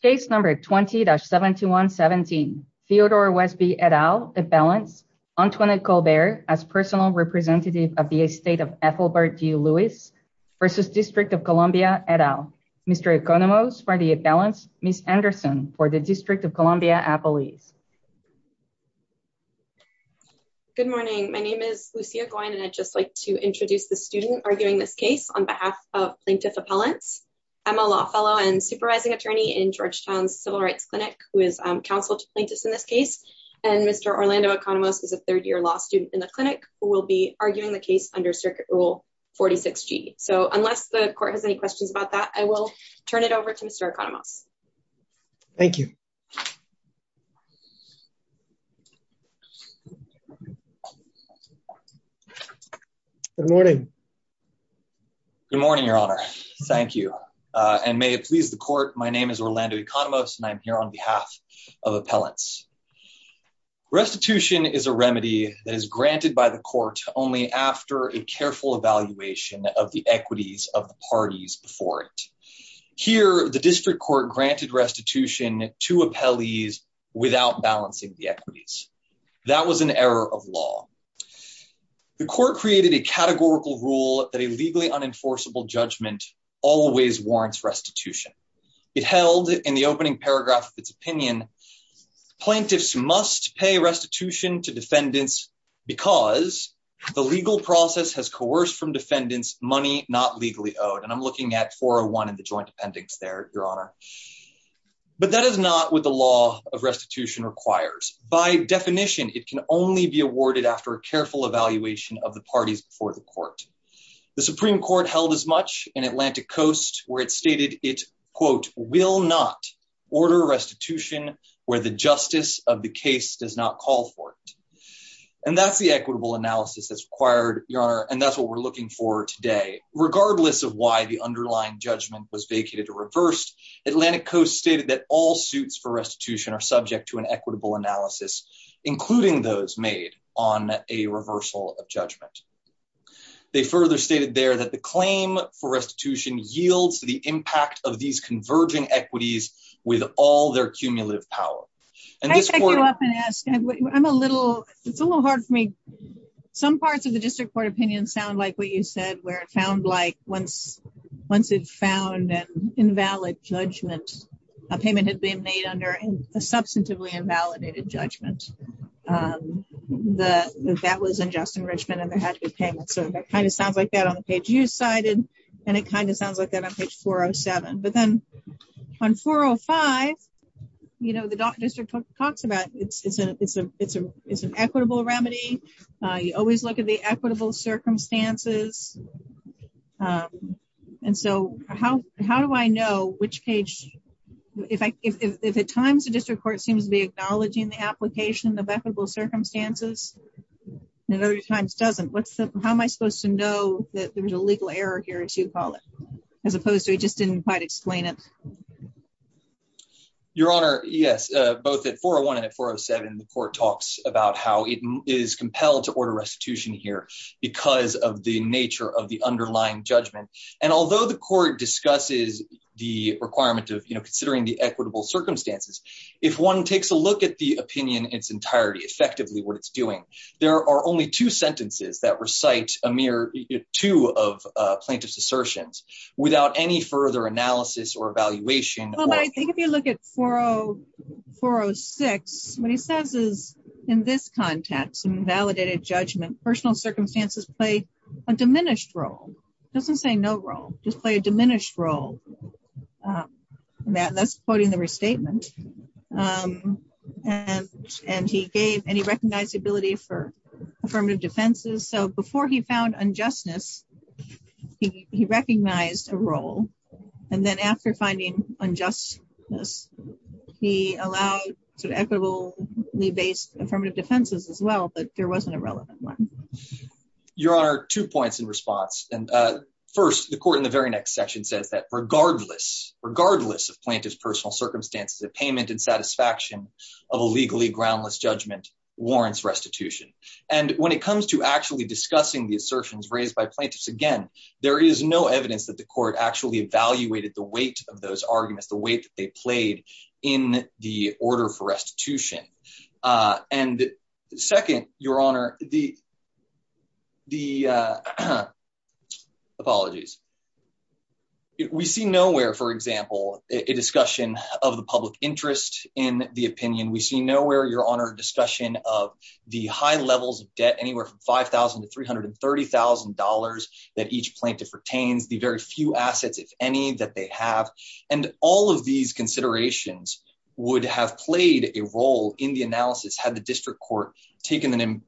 Case number 20-7117 Theodore Wesby et al. Appellants Antoinette Colbert as personal representative of the estate of Ethelbert D. Lewis v. District of Columbia et al. Mr. Economos for the appellants, Ms. Anderson for the District of Columbia appellees. Good morning, my name is Lucia Goin and I'd just like to introduce the student arguing this case on behalf of plaintiff appellants. I'm a law fellow and supervising attorney in Georgetown's Civil Rights Clinic who is counsel to plaintiffs in this case. And Mr. Orlando Economos is a third year law student in the clinic who will be arguing the case under Circuit Rule 46G. So unless the court has any questions about that, I will turn it over to Mr. Economos. Thank you. Good morning. Good morning, your honor. Thank you. And may it please the court, my name is Orlando Economos and I'm here on behalf of appellants. Restitution is a remedy that is granted by the court only after a careful evaluation of the equities of the parties before Here, the district court granted restitution to appellees without balancing the equities. That was an error of law. The court created a categorical rule that a legally unenforceable judgment always warrants restitution. It held in the opening paragraph of its opinion, plaintiffs must pay restitution to defendants because the legal process has coerced from the joint appendix there, your honor. But that is not what the law of restitution requires. By definition, it can only be awarded after a careful evaluation of the parties before the court. The Supreme Court held as much in Atlantic Coast where it stated it, quote, will not order restitution where the justice of the case does not call for it. And that's the equitable analysis that's required, your honor. And that's what we're looking for today, regardless of why the underlying judgment was vacated or reversed. Atlantic Coast stated that all suits for restitution are subject to an equitable analysis, including those made on a reversal of judgment. They further stated there that the claim for restitution yields to the impact of these converging equities with all their cumulative power. And this is what I'm going to ask. I'm a little it's a little hard for me. Some parts of the district court opinion sound like what you said, where it found like once once it found an invalid judgment, a payment had been made under a substantively invalidated judgment that that was unjust enrichment and there had to be payments. So that kind of sounds like that on the page you cited. And it kind of sounds like that on page 407. But then on 405, you know, the district talks about it's an it's a it's a it's an equitable remedy. You always look at the equitable circumstances. And so how how do I know which page if I if at times the district court seems to be acknowledging the application of equitable circumstances and other times doesn't what's the how am I supposed to know that there's a legal error here to call it as opposed to we just didn't quite explain it. Your Honor, yes, both at 401 and 407, the court talks about how it is compelled to order restitution here because of the nature of the underlying judgment. And although the court discusses the requirement of, you know, considering the equitable circumstances, if one takes a look at the opinion, its entirety effectively what it's doing, there are only two sentences that recite a mere two of plaintiff's assertions without any further analysis or evaluation. Well, I think if you look at 404 or six, what he says is, in this context, some validated judgment, personal circumstances play a diminished role, doesn't say no role, just play a diminished role. That's quoting the restatement. And, and he gave any recognizability for affirmative defenses. So before he found unjustness, he recognized a role. And then after finding unjustness, he allowed sort of equitably based affirmative defenses as well, but there wasn't a relevant one. Your Honor, two points in response. And first, the court in the very next section says that regardless of plaintiff's personal circumstances, the payment and satisfaction of a legally groundless judgment warrants restitution. And when it comes to actually discussing the assertions raised by plaintiffs, again, there is no evidence that the court actually evaluated the weight of those arguments, the weight that they played in the order for example, a discussion of the public interest in the opinion. We see nowhere, Your Honor, discussion of the high levels of debt, anywhere from 5,000 to $330,000 that each plaintiff retains the very few assets, if any, that they have. And all of these considerations would have played a role in the analysis had the district court taken them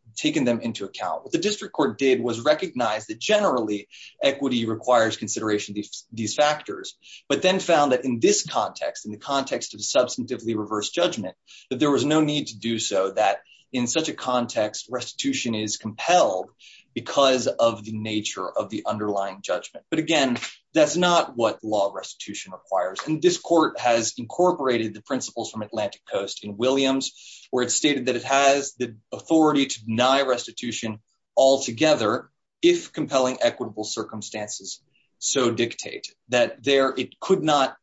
into account. What the district court did was recognize that generally equity requires consideration of these factors, but then found that in this context, in the context of substantively reverse judgment, that there was no need to do so, that in such a context, restitution is compelled because of the nature of the underlying judgment. But again, that's not what law restitution requires. And this court has incorporated the principles from Atlantic Coast in Williams, where it stated that it has the authority to deny restitution altogether if compelling equitable circumstances so dictate that there, it could not...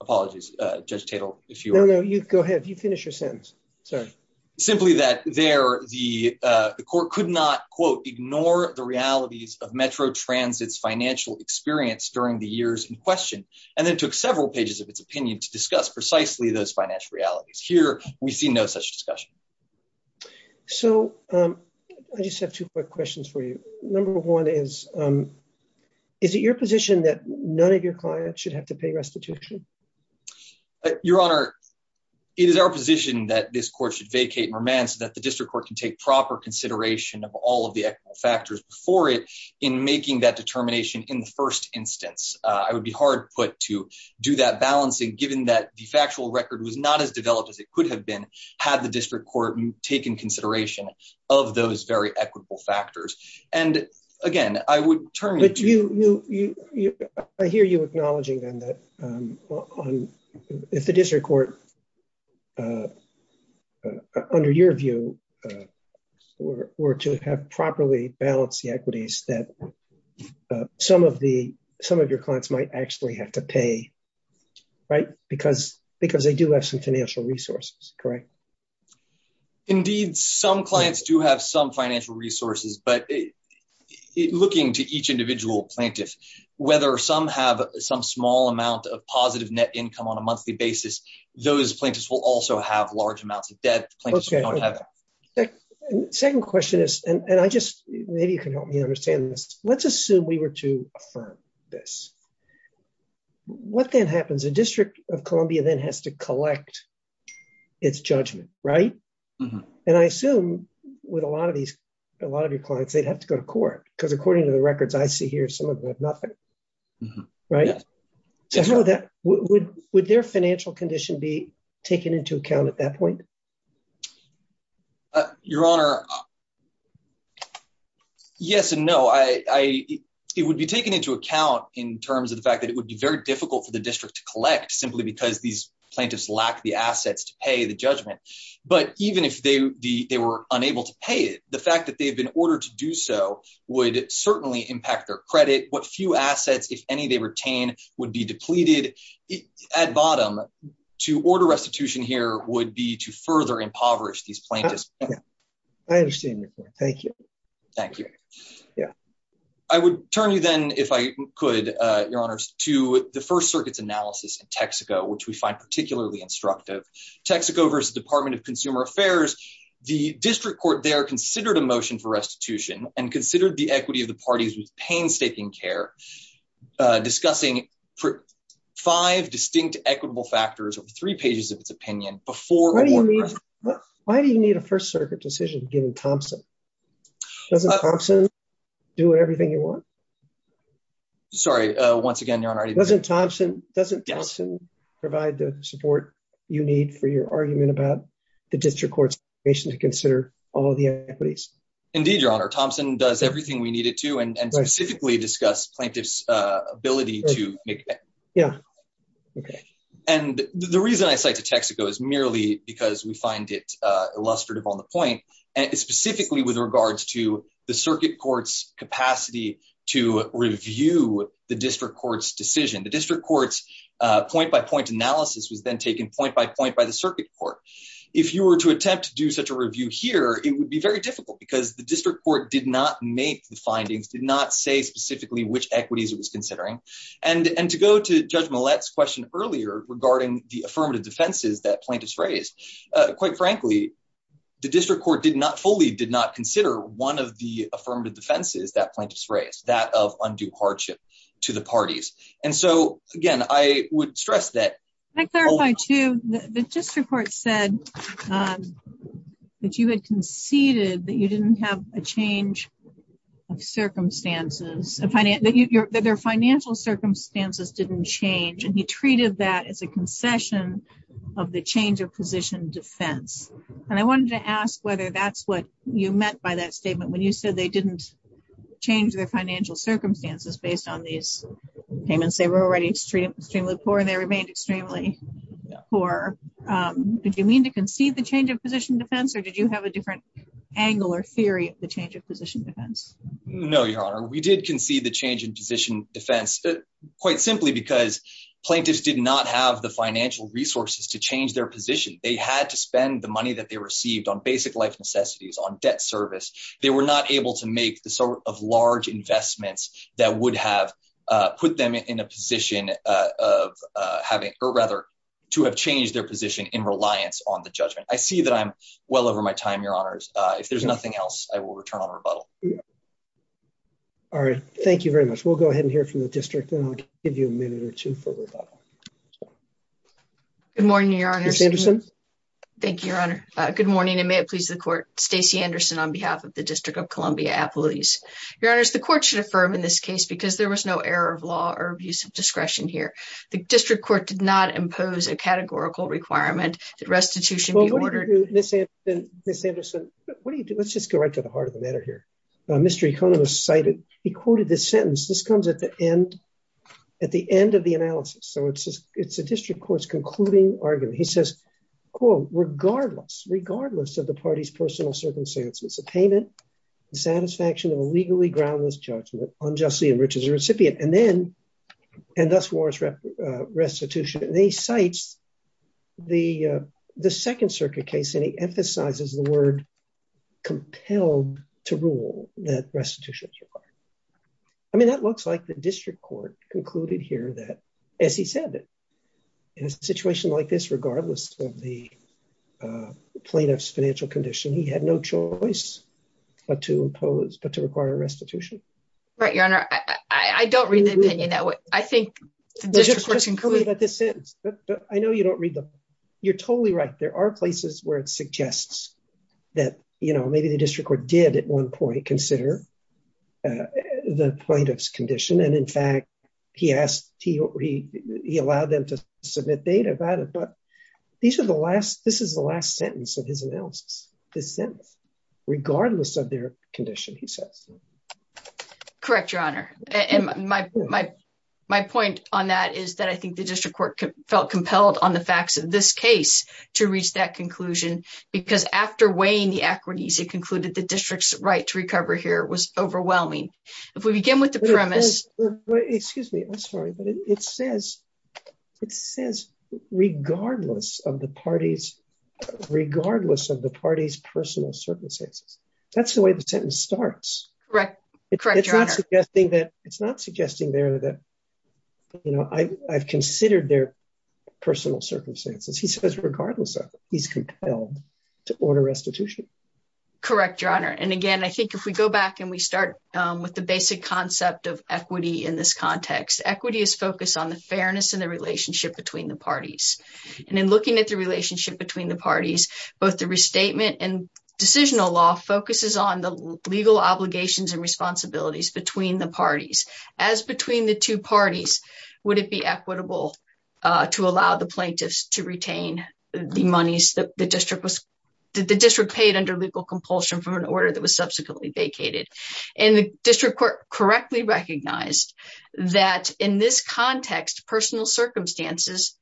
Apologies, Judge Tatel, if you are... No, no, you go ahead. You finish your sentence. Sorry. Simply that there, the court could not, quote, ignore the realities of Metro Transit's financial experience during the years in question, and then took several pages of its opinion to discuss precisely those financial realities. Here, we see no such discussion. So, I just have two quick questions for you. Number one is, is it your position that none of your clients should have to pay restitution? Your Honor, it is our position that this court should vacate Merman so that the district court can take proper consideration of all of the factors before it in making that determination in the first instance. I would be hard put to do that balancing given that the factual record was not as developed as it could have been had the district court taken consideration of those very equitable factors. And, again, I would turn to... But you... I hear you acknowledging then that if the district court, under your view, were to have properly balanced the equities that some of your clients might actually have to pay, right, because they do have some financial resources, correct? Indeed, some clients do have some financial resources, but looking to each individual plaintiff, whether some have some small amount of positive net income on a monthly basis, those plaintiffs will also have large amounts of debt. Second question is, and maybe you can help me understand this, let's assume we were to determine this. What then happens? The District of Columbia then has to collect its judgment, right? And I assume with a lot of your clients, they'd have to go to court because according to the records I see here, some of them have nothing, right? Would their financial condition be taken into account at that point? Your Honor, yes and no. It would be taken into account in terms of the fact that it would be very difficult for the district to collect simply because these plaintiffs lack the assets to pay the judgment. But even if they were unable to pay it, the fact that they've been ordered to do so would certainly impact their credit. What few assets, if any, they retain would be depleted. At bottom, to order restitution here would be to further impoverish these plaintiffs. I understand your point. Thank you. Thank you. Yeah. I would turn you then, if I could, Your Honors, to the First Circuit's analysis in Texaco, which we find particularly instructive. Texaco versus Department of Consumer Affairs, the district court there considered a motion for restitution and considered the equity of the parties with painstaking care, discussing five distinct equitable factors over three pages of its opinion before- Why do you need a First Circuit decision given Thompson? Doesn't Thompson do everything you want? Sorry, once again, Your Honor- Doesn't Thompson provide the support you need for your argument about the district court's decision to consider all of the equities? Indeed, Your Honor. Thompson does everything we need it to and specifically discuss plaintiff's ability to make- Yeah. Okay. The reason I cite to Texaco is merely because we find it illustrative on the point and specifically with regards to the circuit court's capacity to review the district court's decision. The district court's point-by-point analysis was then taken point-by-point by the circuit court. If you were to attempt to do such a review here, it would be very difficult because the district court did not make the findings, did not say specifically which equities it was considering. And to go to Judge Millett's question earlier regarding the affirmative defenses that plaintiffs raised, quite frankly, the district court did not fully did not consider one of the affirmative defenses that plaintiffs raised, that of undue hardship to the parties. And so again, I would stress that- Can I clarify too? The district court said that you had conceded that you didn't have a change of circumstances, that their financial circumstances didn't change. And he treated that as a concession of the change of position defense. And I wanted to ask whether that's what you meant by that statement when you said they didn't change their financial circumstances based on these payments. They were already extremely poor and they remained extremely poor. Did you mean to concede the change of position defense or did you have a different angle or theory of the No, Your Honor. We did concede the change in position defense, quite simply because plaintiffs did not have the financial resources to change their position. They had to spend the money that they received on basic life necessities, on debt service. They were not able to make the sort of large investments that would have put them in a position of having, or rather, to have changed their position in reliance on the judgment. I see that I'm well over my time, Your Honors. If there's nothing else, I will return on rebuttal. All right. Thank you very much. We'll go ahead and hear from the district and I'll give you a minute or two for rebuttal. Good morning, Your Honor. Ms. Anderson. Thank you, Your Honor. Good morning and may it please the court. Stacey Anderson on behalf of the District of Columbia Appellees. Your Honors, the court should affirm in this case because there was no error of law or abuse of discretion here. The district court did not impose a categorical requirement. Did restitution be ordered? Ms. Anderson, let's just go right to the heart of the matter here. Mr. Economist cited, he quoted this sentence. This comes at the end of the analysis. It's a district court's concluding argument. He says, quote, regardless of the party's personal circumstances, the payment, the satisfaction of a legally groundless judgment unjustly enriches the recipient and thus warrants restitution. He cites the Second Circuit case and he emphasizes the word compelled to rule that restitution is required. I mean, that looks like the district court concluded here that, as he said, in a situation like this, regardless of the plaintiff's financial condition, he had no choice but to impose, but to require restitution. Right, Your Honor. I don't read the opinion that way. I think that this sentence, but I know you don't read them. You're totally right. There are places where it suggests that, you know, maybe the district court did at one point consider the plaintiff's condition. And in fact, he asked, he allowed them to submit data about it. But these are the last, this is the last sentence of his analysis. This sentence, regardless of their condition, he says. Correct, Your Honor. And my point on that is that I think the district court felt compelled on the facts of this case to reach that conclusion, because after weighing the equities, it concluded the district's right to recover here was overwhelming. If we begin with the premise. Excuse me, I'm sorry, but it says, it says, regardless of the party's, personal circumstances. That's the way the sentence starts. Correct. It's not suggesting there that, you know, I've considered their personal circumstances. He says, regardless of he's compelled to order restitution. Correct, Your Honor. And again, I think if we go back and we start with the basic concept of equity in this context, equity is focused on the fairness and the relationship between the parties. And in looking at the relationship between the parties, both the statement and decisional law focuses on the legal obligations and responsibilities between the parties. As between the two parties, would it be equitable to allow the plaintiffs to retain the monies that the district was, the district paid under legal compulsion from an order that was subsequently vacated. And the district court correctly recognized that in this context, personal circumstances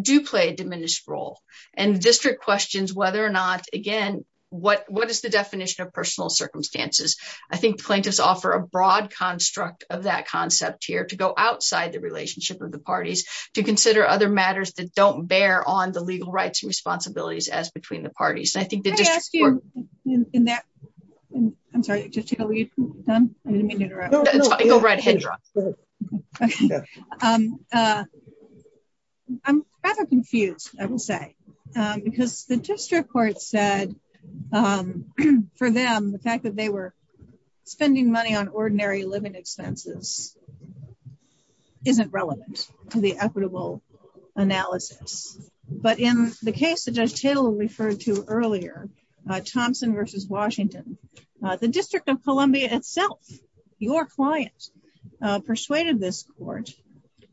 do play a diminished role. And district questions whether or not, again, what, what is the definition of personal circumstances? I think plaintiffs offer a broad construct of that concept here to go outside the relationship of the parties to consider other matters that don't bear on the legal rights and responsibilities as between the parties. Can I ask you, in that, I'm sorry, Judge Taylor, are you done? I didn't mean to interrupt. Go right ahead, Your Honor. I'm rather confused, I will say, because the district court said, for them, the fact that they were spending money on ordinary living expenses isn't relevant to the equitable analysis. But in the case that Judge Taylor referred to earlier, Thompson versus Washington, the District of Columbia itself, your client, persuaded this court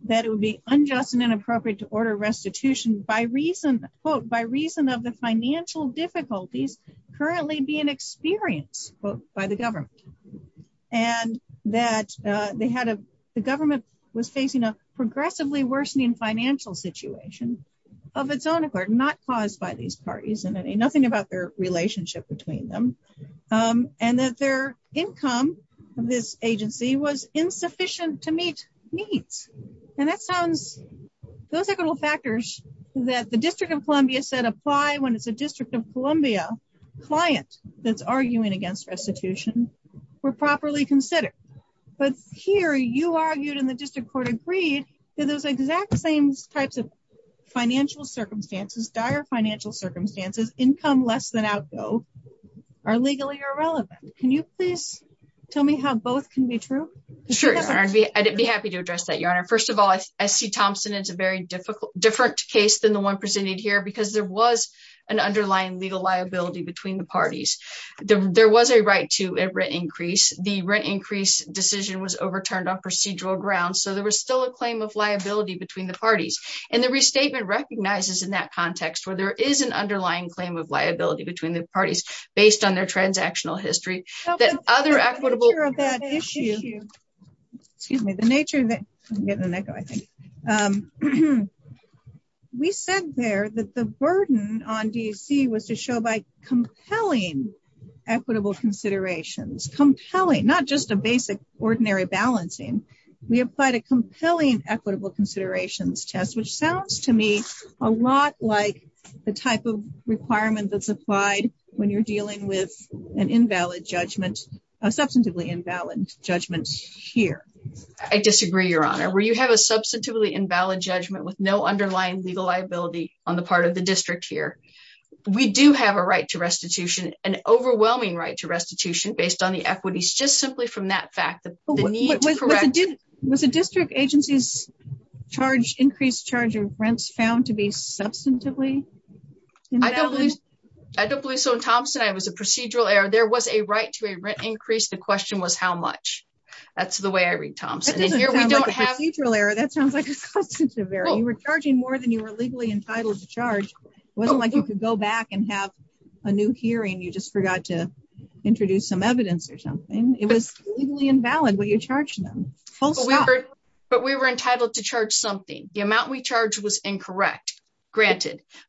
that it would be unjust and inappropriate to order restitution by reason, quote, by reason of the financial difficulties currently being experienced, quote, by the government. And that they had a, the government was facing a progressively worsening financial situation of its own accord, not caused by these parties, and nothing about their relationship between them. And that their income of this agency was insufficient to meet needs. And that sounds, those are all factors that the District of Columbia said apply when it's a District of Columbia client that's arguing against restitution were properly considered. But here, you argued and the district court agreed that those exact same types of financial circumstances, dire financial circumstances, income less than outgo, are legally irrelevant. Can you please tell me how both can be true? Sure, Your Honor, I'd be happy to address that, Your Honor. First of all, I see Thompson as a very difficult, different case than the one presented here, because there was an underlying legal liability between the parties. There was a right to a rent increase, the rent increase decision was overturned on procedural grounds. So there was still a claim of liability between the parties. And the restatement recognizes in that context, where there is an underlying claim of liability between the parties, based on their transactional history, that other equitable issue. Excuse me, the nature of that, I'm getting an echo, I think. We said there that the burden on DC was to show by compelling, equitable considerations compelling, not just a basic, ordinary balancing, we applied a compelling equitable considerations test, which sounds to me a lot like the type of requirement that's applied when you're dealing an invalid judgment, a substantively invalid judgment here. I disagree, Your Honor, where you have a substantively invalid judgment with no underlying legal liability on the part of the district here. We do have a right to restitution, an overwhelming right to restitution based on the equities just simply from that fact. Was a district agency's charge increased charge of rents found to be substantively? I don't believe so. In Thompson, it was a procedural error. There was a right to a rent increase. The question was how much. That's the way I read Thompson. That doesn't sound like a procedural error. That sounds like a substantive error. You were charging more than you were legally entitled to charge. It wasn't like you could go back and have a new hearing. You just forgot to introduce some evidence or something. It was legally invalid when you charged them. But we were entitled to charge something. The amount we charged was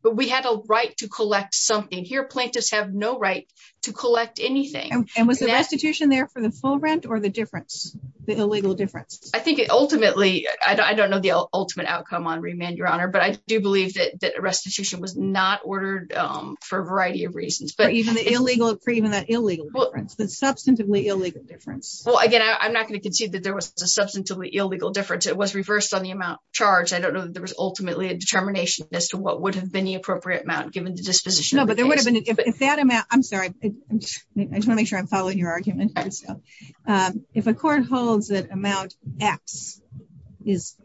but we had a right to collect something. Here, plaintiffs have no right to collect anything. And was the restitution there for the full rent or the difference, the illegal difference? I think it ultimately, I don't know the ultimate outcome on remand, Your Honor, but I do believe that restitution was not ordered for a variety of reasons. But even for that illegal difference, the substantively illegal difference. Well, again, I'm not going to concede that there was a substantively illegal difference. It was reversed on the amount charged. I don't know that there was ultimately a determination as to what would have been the appropriate amount given the disposition. No, but there would have been, if that amount, I'm sorry, I just want to make sure I'm following your argument. If a court holds that amount X is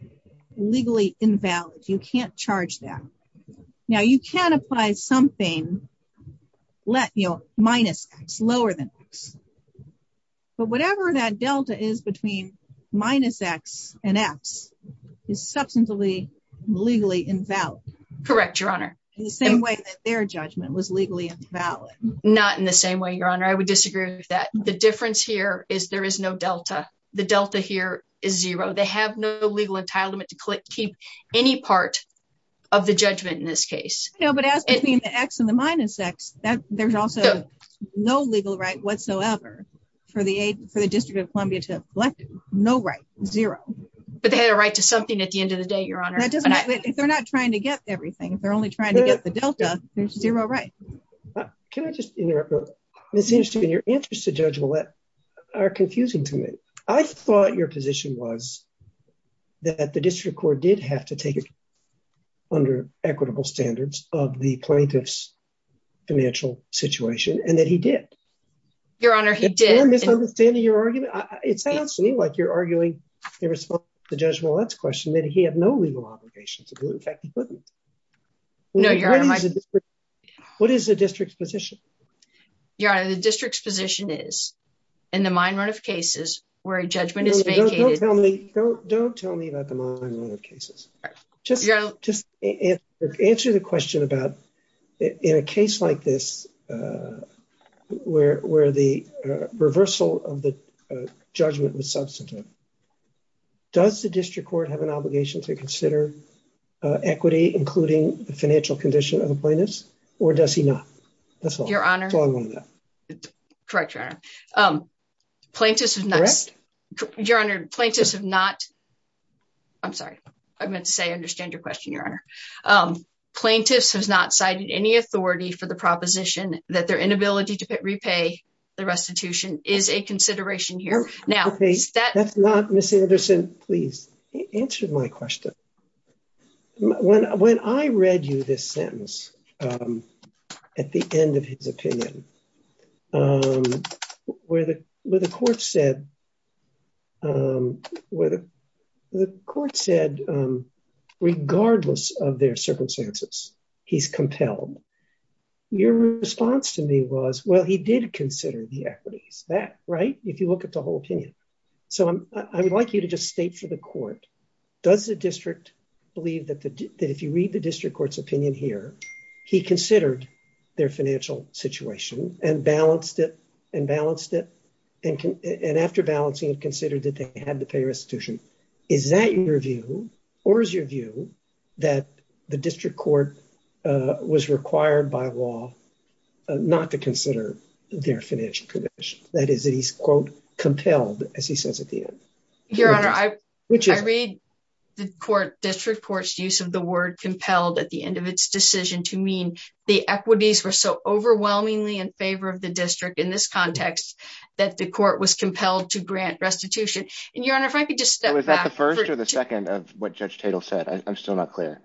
legally invalid, you can't charge that. Now, you can apply something minus X, lower than X. But whatever that delta is between minus X and X is substantively legally invalid. Correct, Your Honor. In the same way that their judgment was legally invalid. Not in the same way, Your Honor. I would disagree with that. The difference here is there is no delta. The delta here is zero. They have no legal entitlement to keep any part of the judgment in this case. No, but as between the X and the minus X, there's also no legal right whatsoever for the District of Columbia to have collected. No right, zero. But they had a right to something at the end of the day, Your Honor. If they're not trying to get everything, if they're only trying to get the delta, there's zero right. Can I just interrupt real quick? It seems to me your answers to Judge Ouellette are confusing to me. I thought your position was that the District Court did have to take it under equitable standards of the plaintiff's financial situation and that he did. Your Honor, he did. Am I misunderstanding your argument? It sounds to me like you're arguing in response to Judge Ouellette's question that he had no legal obligations. In fact, he couldn't. What is the District's position? Your Honor, the District's position is, in the mine run of cases where a judgment is vacated... Don't tell me about the mine run of cases. Just answer the question about, in a case like this where the reversal of the judgment was an obligation to consider equity, including the financial condition of the plaintiffs, or does he not? That's all. Your Honor, plaintiffs have not... I'm sorry. I meant to say I understand your question, Your Honor. Plaintiffs have not cited any authority for the proposition that their inability to repay the restitution is a consideration here. That's not... Ms. Anderson, please answer my question. When I read you this sentence at the end of his opinion, where the court said, regardless of their circumstances, he's compelled. Your response to me was, well, he did consider the equities. That, right? If you look at the court's opinion, it's a reasonable opinion. I would like you to just state for the court, does the District believe that if you read the District Court's opinion here, he considered their financial situation and balanced it, and after balancing it, considered that they had to pay restitution? Is that your view, or is your view that the District Court was required by law not to consider their financial condition? That is that he's, quote, compelled, as he says at the end. Your Honor, I read the District Court's use of the word compelled at the end of its decision to mean the equities were so overwhelmingly in favor of the District in this context that the court was compelled to grant restitution. Your Honor, if I could just step back... Was that the first or the second of what Judge Tatel said? I'm still not clear.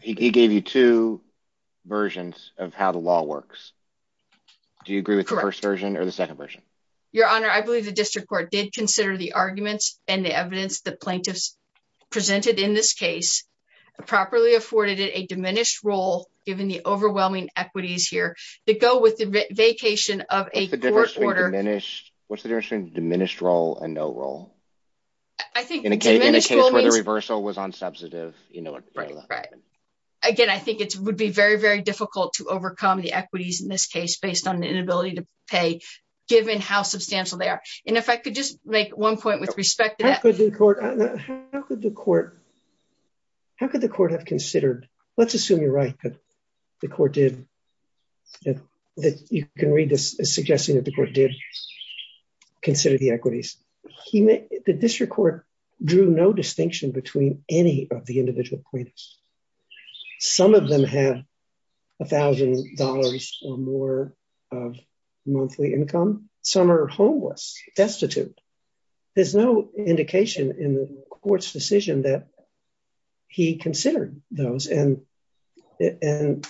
He gave you two versions of how the law works. Do you agree with the first version or the second version? Your Honor, I believe the District Court did consider the arguments and the evidence that plaintiffs presented in this case, properly afforded it a diminished role given the overwhelming equities here that go with the vacation of a court order... What's the difference between diminished role and no role? I think diminished role means... In a case where reversal was on substantive... Right. Again, I think it would be very, very difficult to overcome the equities in this case based on the inability to pay given how substantial they are. And if I could just make one point with respect to that... How could the court have considered... Let's assume you're right that the court did... That you can read this as suggesting that the court did consider the equities. The District Court drew no distinction between any of the individual plaintiffs. Some of them have $1,000 or more of monthly income. Some are homeless, destitute. There's no indication in the court's decision that he considered those. And that's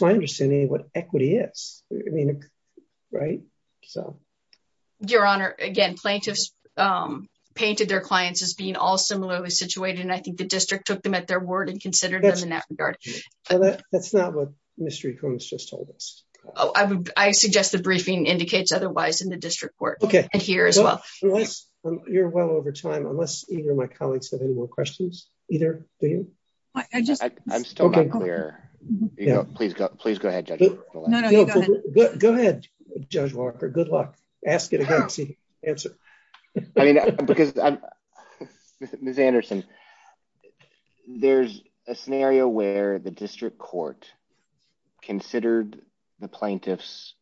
my what equity is, right? Your Honor, again, plaintiffs painted their clients as being all similarly situated. And I think the district took them at their word and considered them in that regard. That's not what Mr. Econis just told us. I suggest the briefing indicates otherwise in the district court and here as well. You're well over time, unless either of my colleagues have more questions either. I just... I'm still not clear. Please go ahead, Judge Walker. Go ahead, Judge Walker. Good luck. Ask it again. See, answer. I mean, because Ms. Anderson, there's a scenario where the district court considered the plaintiff's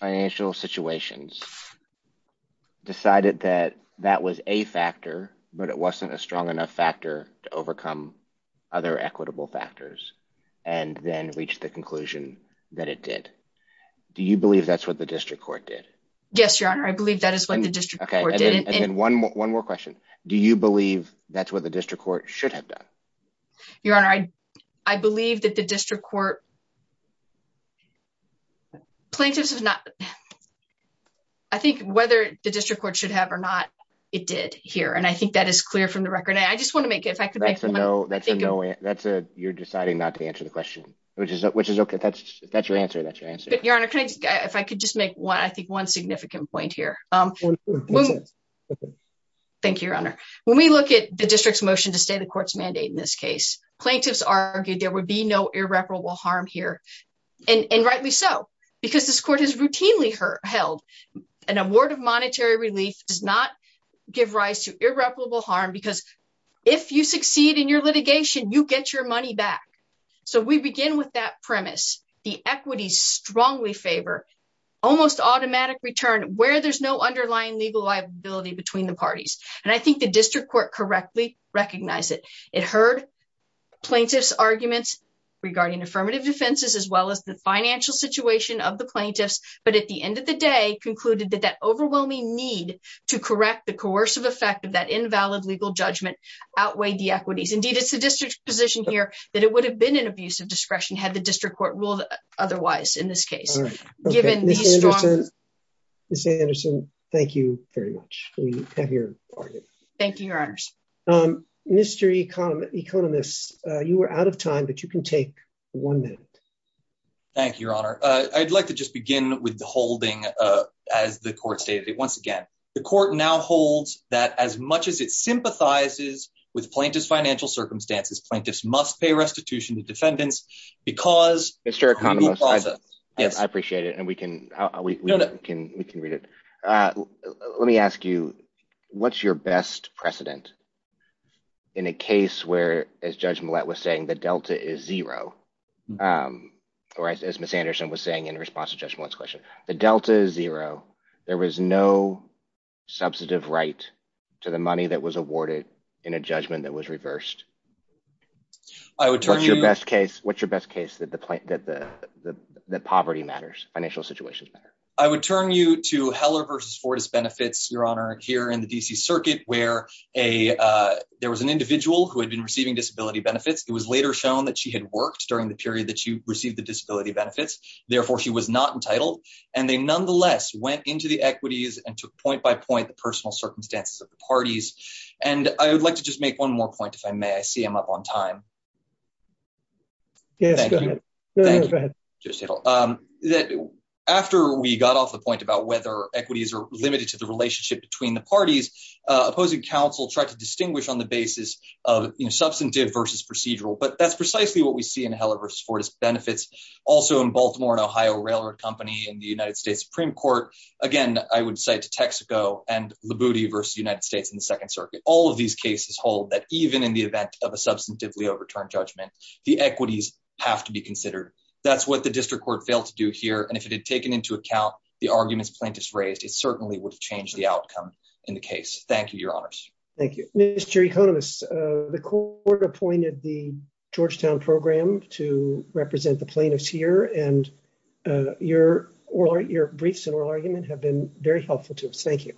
financial situations, decided that that was a factor, but it wasn't a strong enough factor to overcome other equitable factors, and then reach the conclusion that it did. Do you believe that's what the district court did? Yes, Your Honor. I believe that is what the district court did. And one more question. Do you believe that's what the district court should have done? Your Honor, I believe that district court... Plaintiffs have not... I think whether the district court should have or not, it did here. And I think that is clear from the record. And I just want to make... That's a no. You're deciding not to answer the question, which is okay. That's your answer. That's your answer. Your Honor, if I could just make one, I think one significant point here. Thank you, Your Honor. When we look at the district's motion to stay the court's mandate in this case, plaintiffs argued there would be no irreparable harm here. And rightly so, because this court has routinely held an award of monetary relief does not give rise to irreparable harm, because if you succeed in your litigation, you get your money back. So we begin with that premise. The equities strongly favor almost automatic return where there's no underlying legal liability between the parties. And I think the district court correctly recognized it. It heard plaintiff's arguments regarding affirmative defenses, as well as the financial situation of the plaintiffs. But at the end of the day, concluded that that overwhelming need to correct the coercive effect of that invalid legal judgment outweighed the equities. Indeed, it's the district's position here that it would have been an abuse of discretion had the district court ruled otherwise in this case. All right. Ms. Anderson, thank you very much. We have your Thank you, Your Honor. Mr. Economist, you are out of time, but you can take one minute. Thank you, Your Honor. I'd like to just begin with the holding. As the court stated it once again, the court now holds that as much as it sympathizes with plaintiff's financial circumstances, plaintiffs must pay restitution to defendants, because Mr. Economist. Yes, I appreciate it. And we can read it. Let me ask you, what's your best precedent in a case where, as Judge Millett was saying, the delta is zero? Or as Ms. Anderson was saying in response to Judge Millett's question, the delta is zero. There was no substantive right to the money that was awarded in a judgment that reversed. What's your best case that poverty matters, financial situations matter? I would turn you to Heller v. Fortis benefits, Your Honor, here in the D.C. Circuit, where there was an individual who had been receiving disability benefits. It was later shown that she had worked during the period that she received the disability benefits. Therefore, she was not entitled. And they nonetheless went into the equities and took point by point the personal point. If I may, I see I'm up on time. Yes. Thank you. After we got off the point about whether equities are limited to the relationship between the parties, opposing counsel tried to distinguish on the basis of substantive versus procedural. But that's precisely what we see in Heller v. Fortis benefits. Also in Baltimore and Ohio Railroad Company and the United States Supreme Court. Again, I would say to Texaco and Libuti v. United States in the Second Circuit, all of these cases hold that even in the event of a substantively overturned judgment, the equities have to be considered. That's what the district court failed to do here. And if it had taken into account the arguments plaintiffs raised, it certainly would have changed the outcome in the case. Thank you, Your Honors. Thank you. Mr. Economist, the court appointed the Georgetown program to represent the plaintiffs here. And your briefs and oral argument have been very helpful to us. Thank you.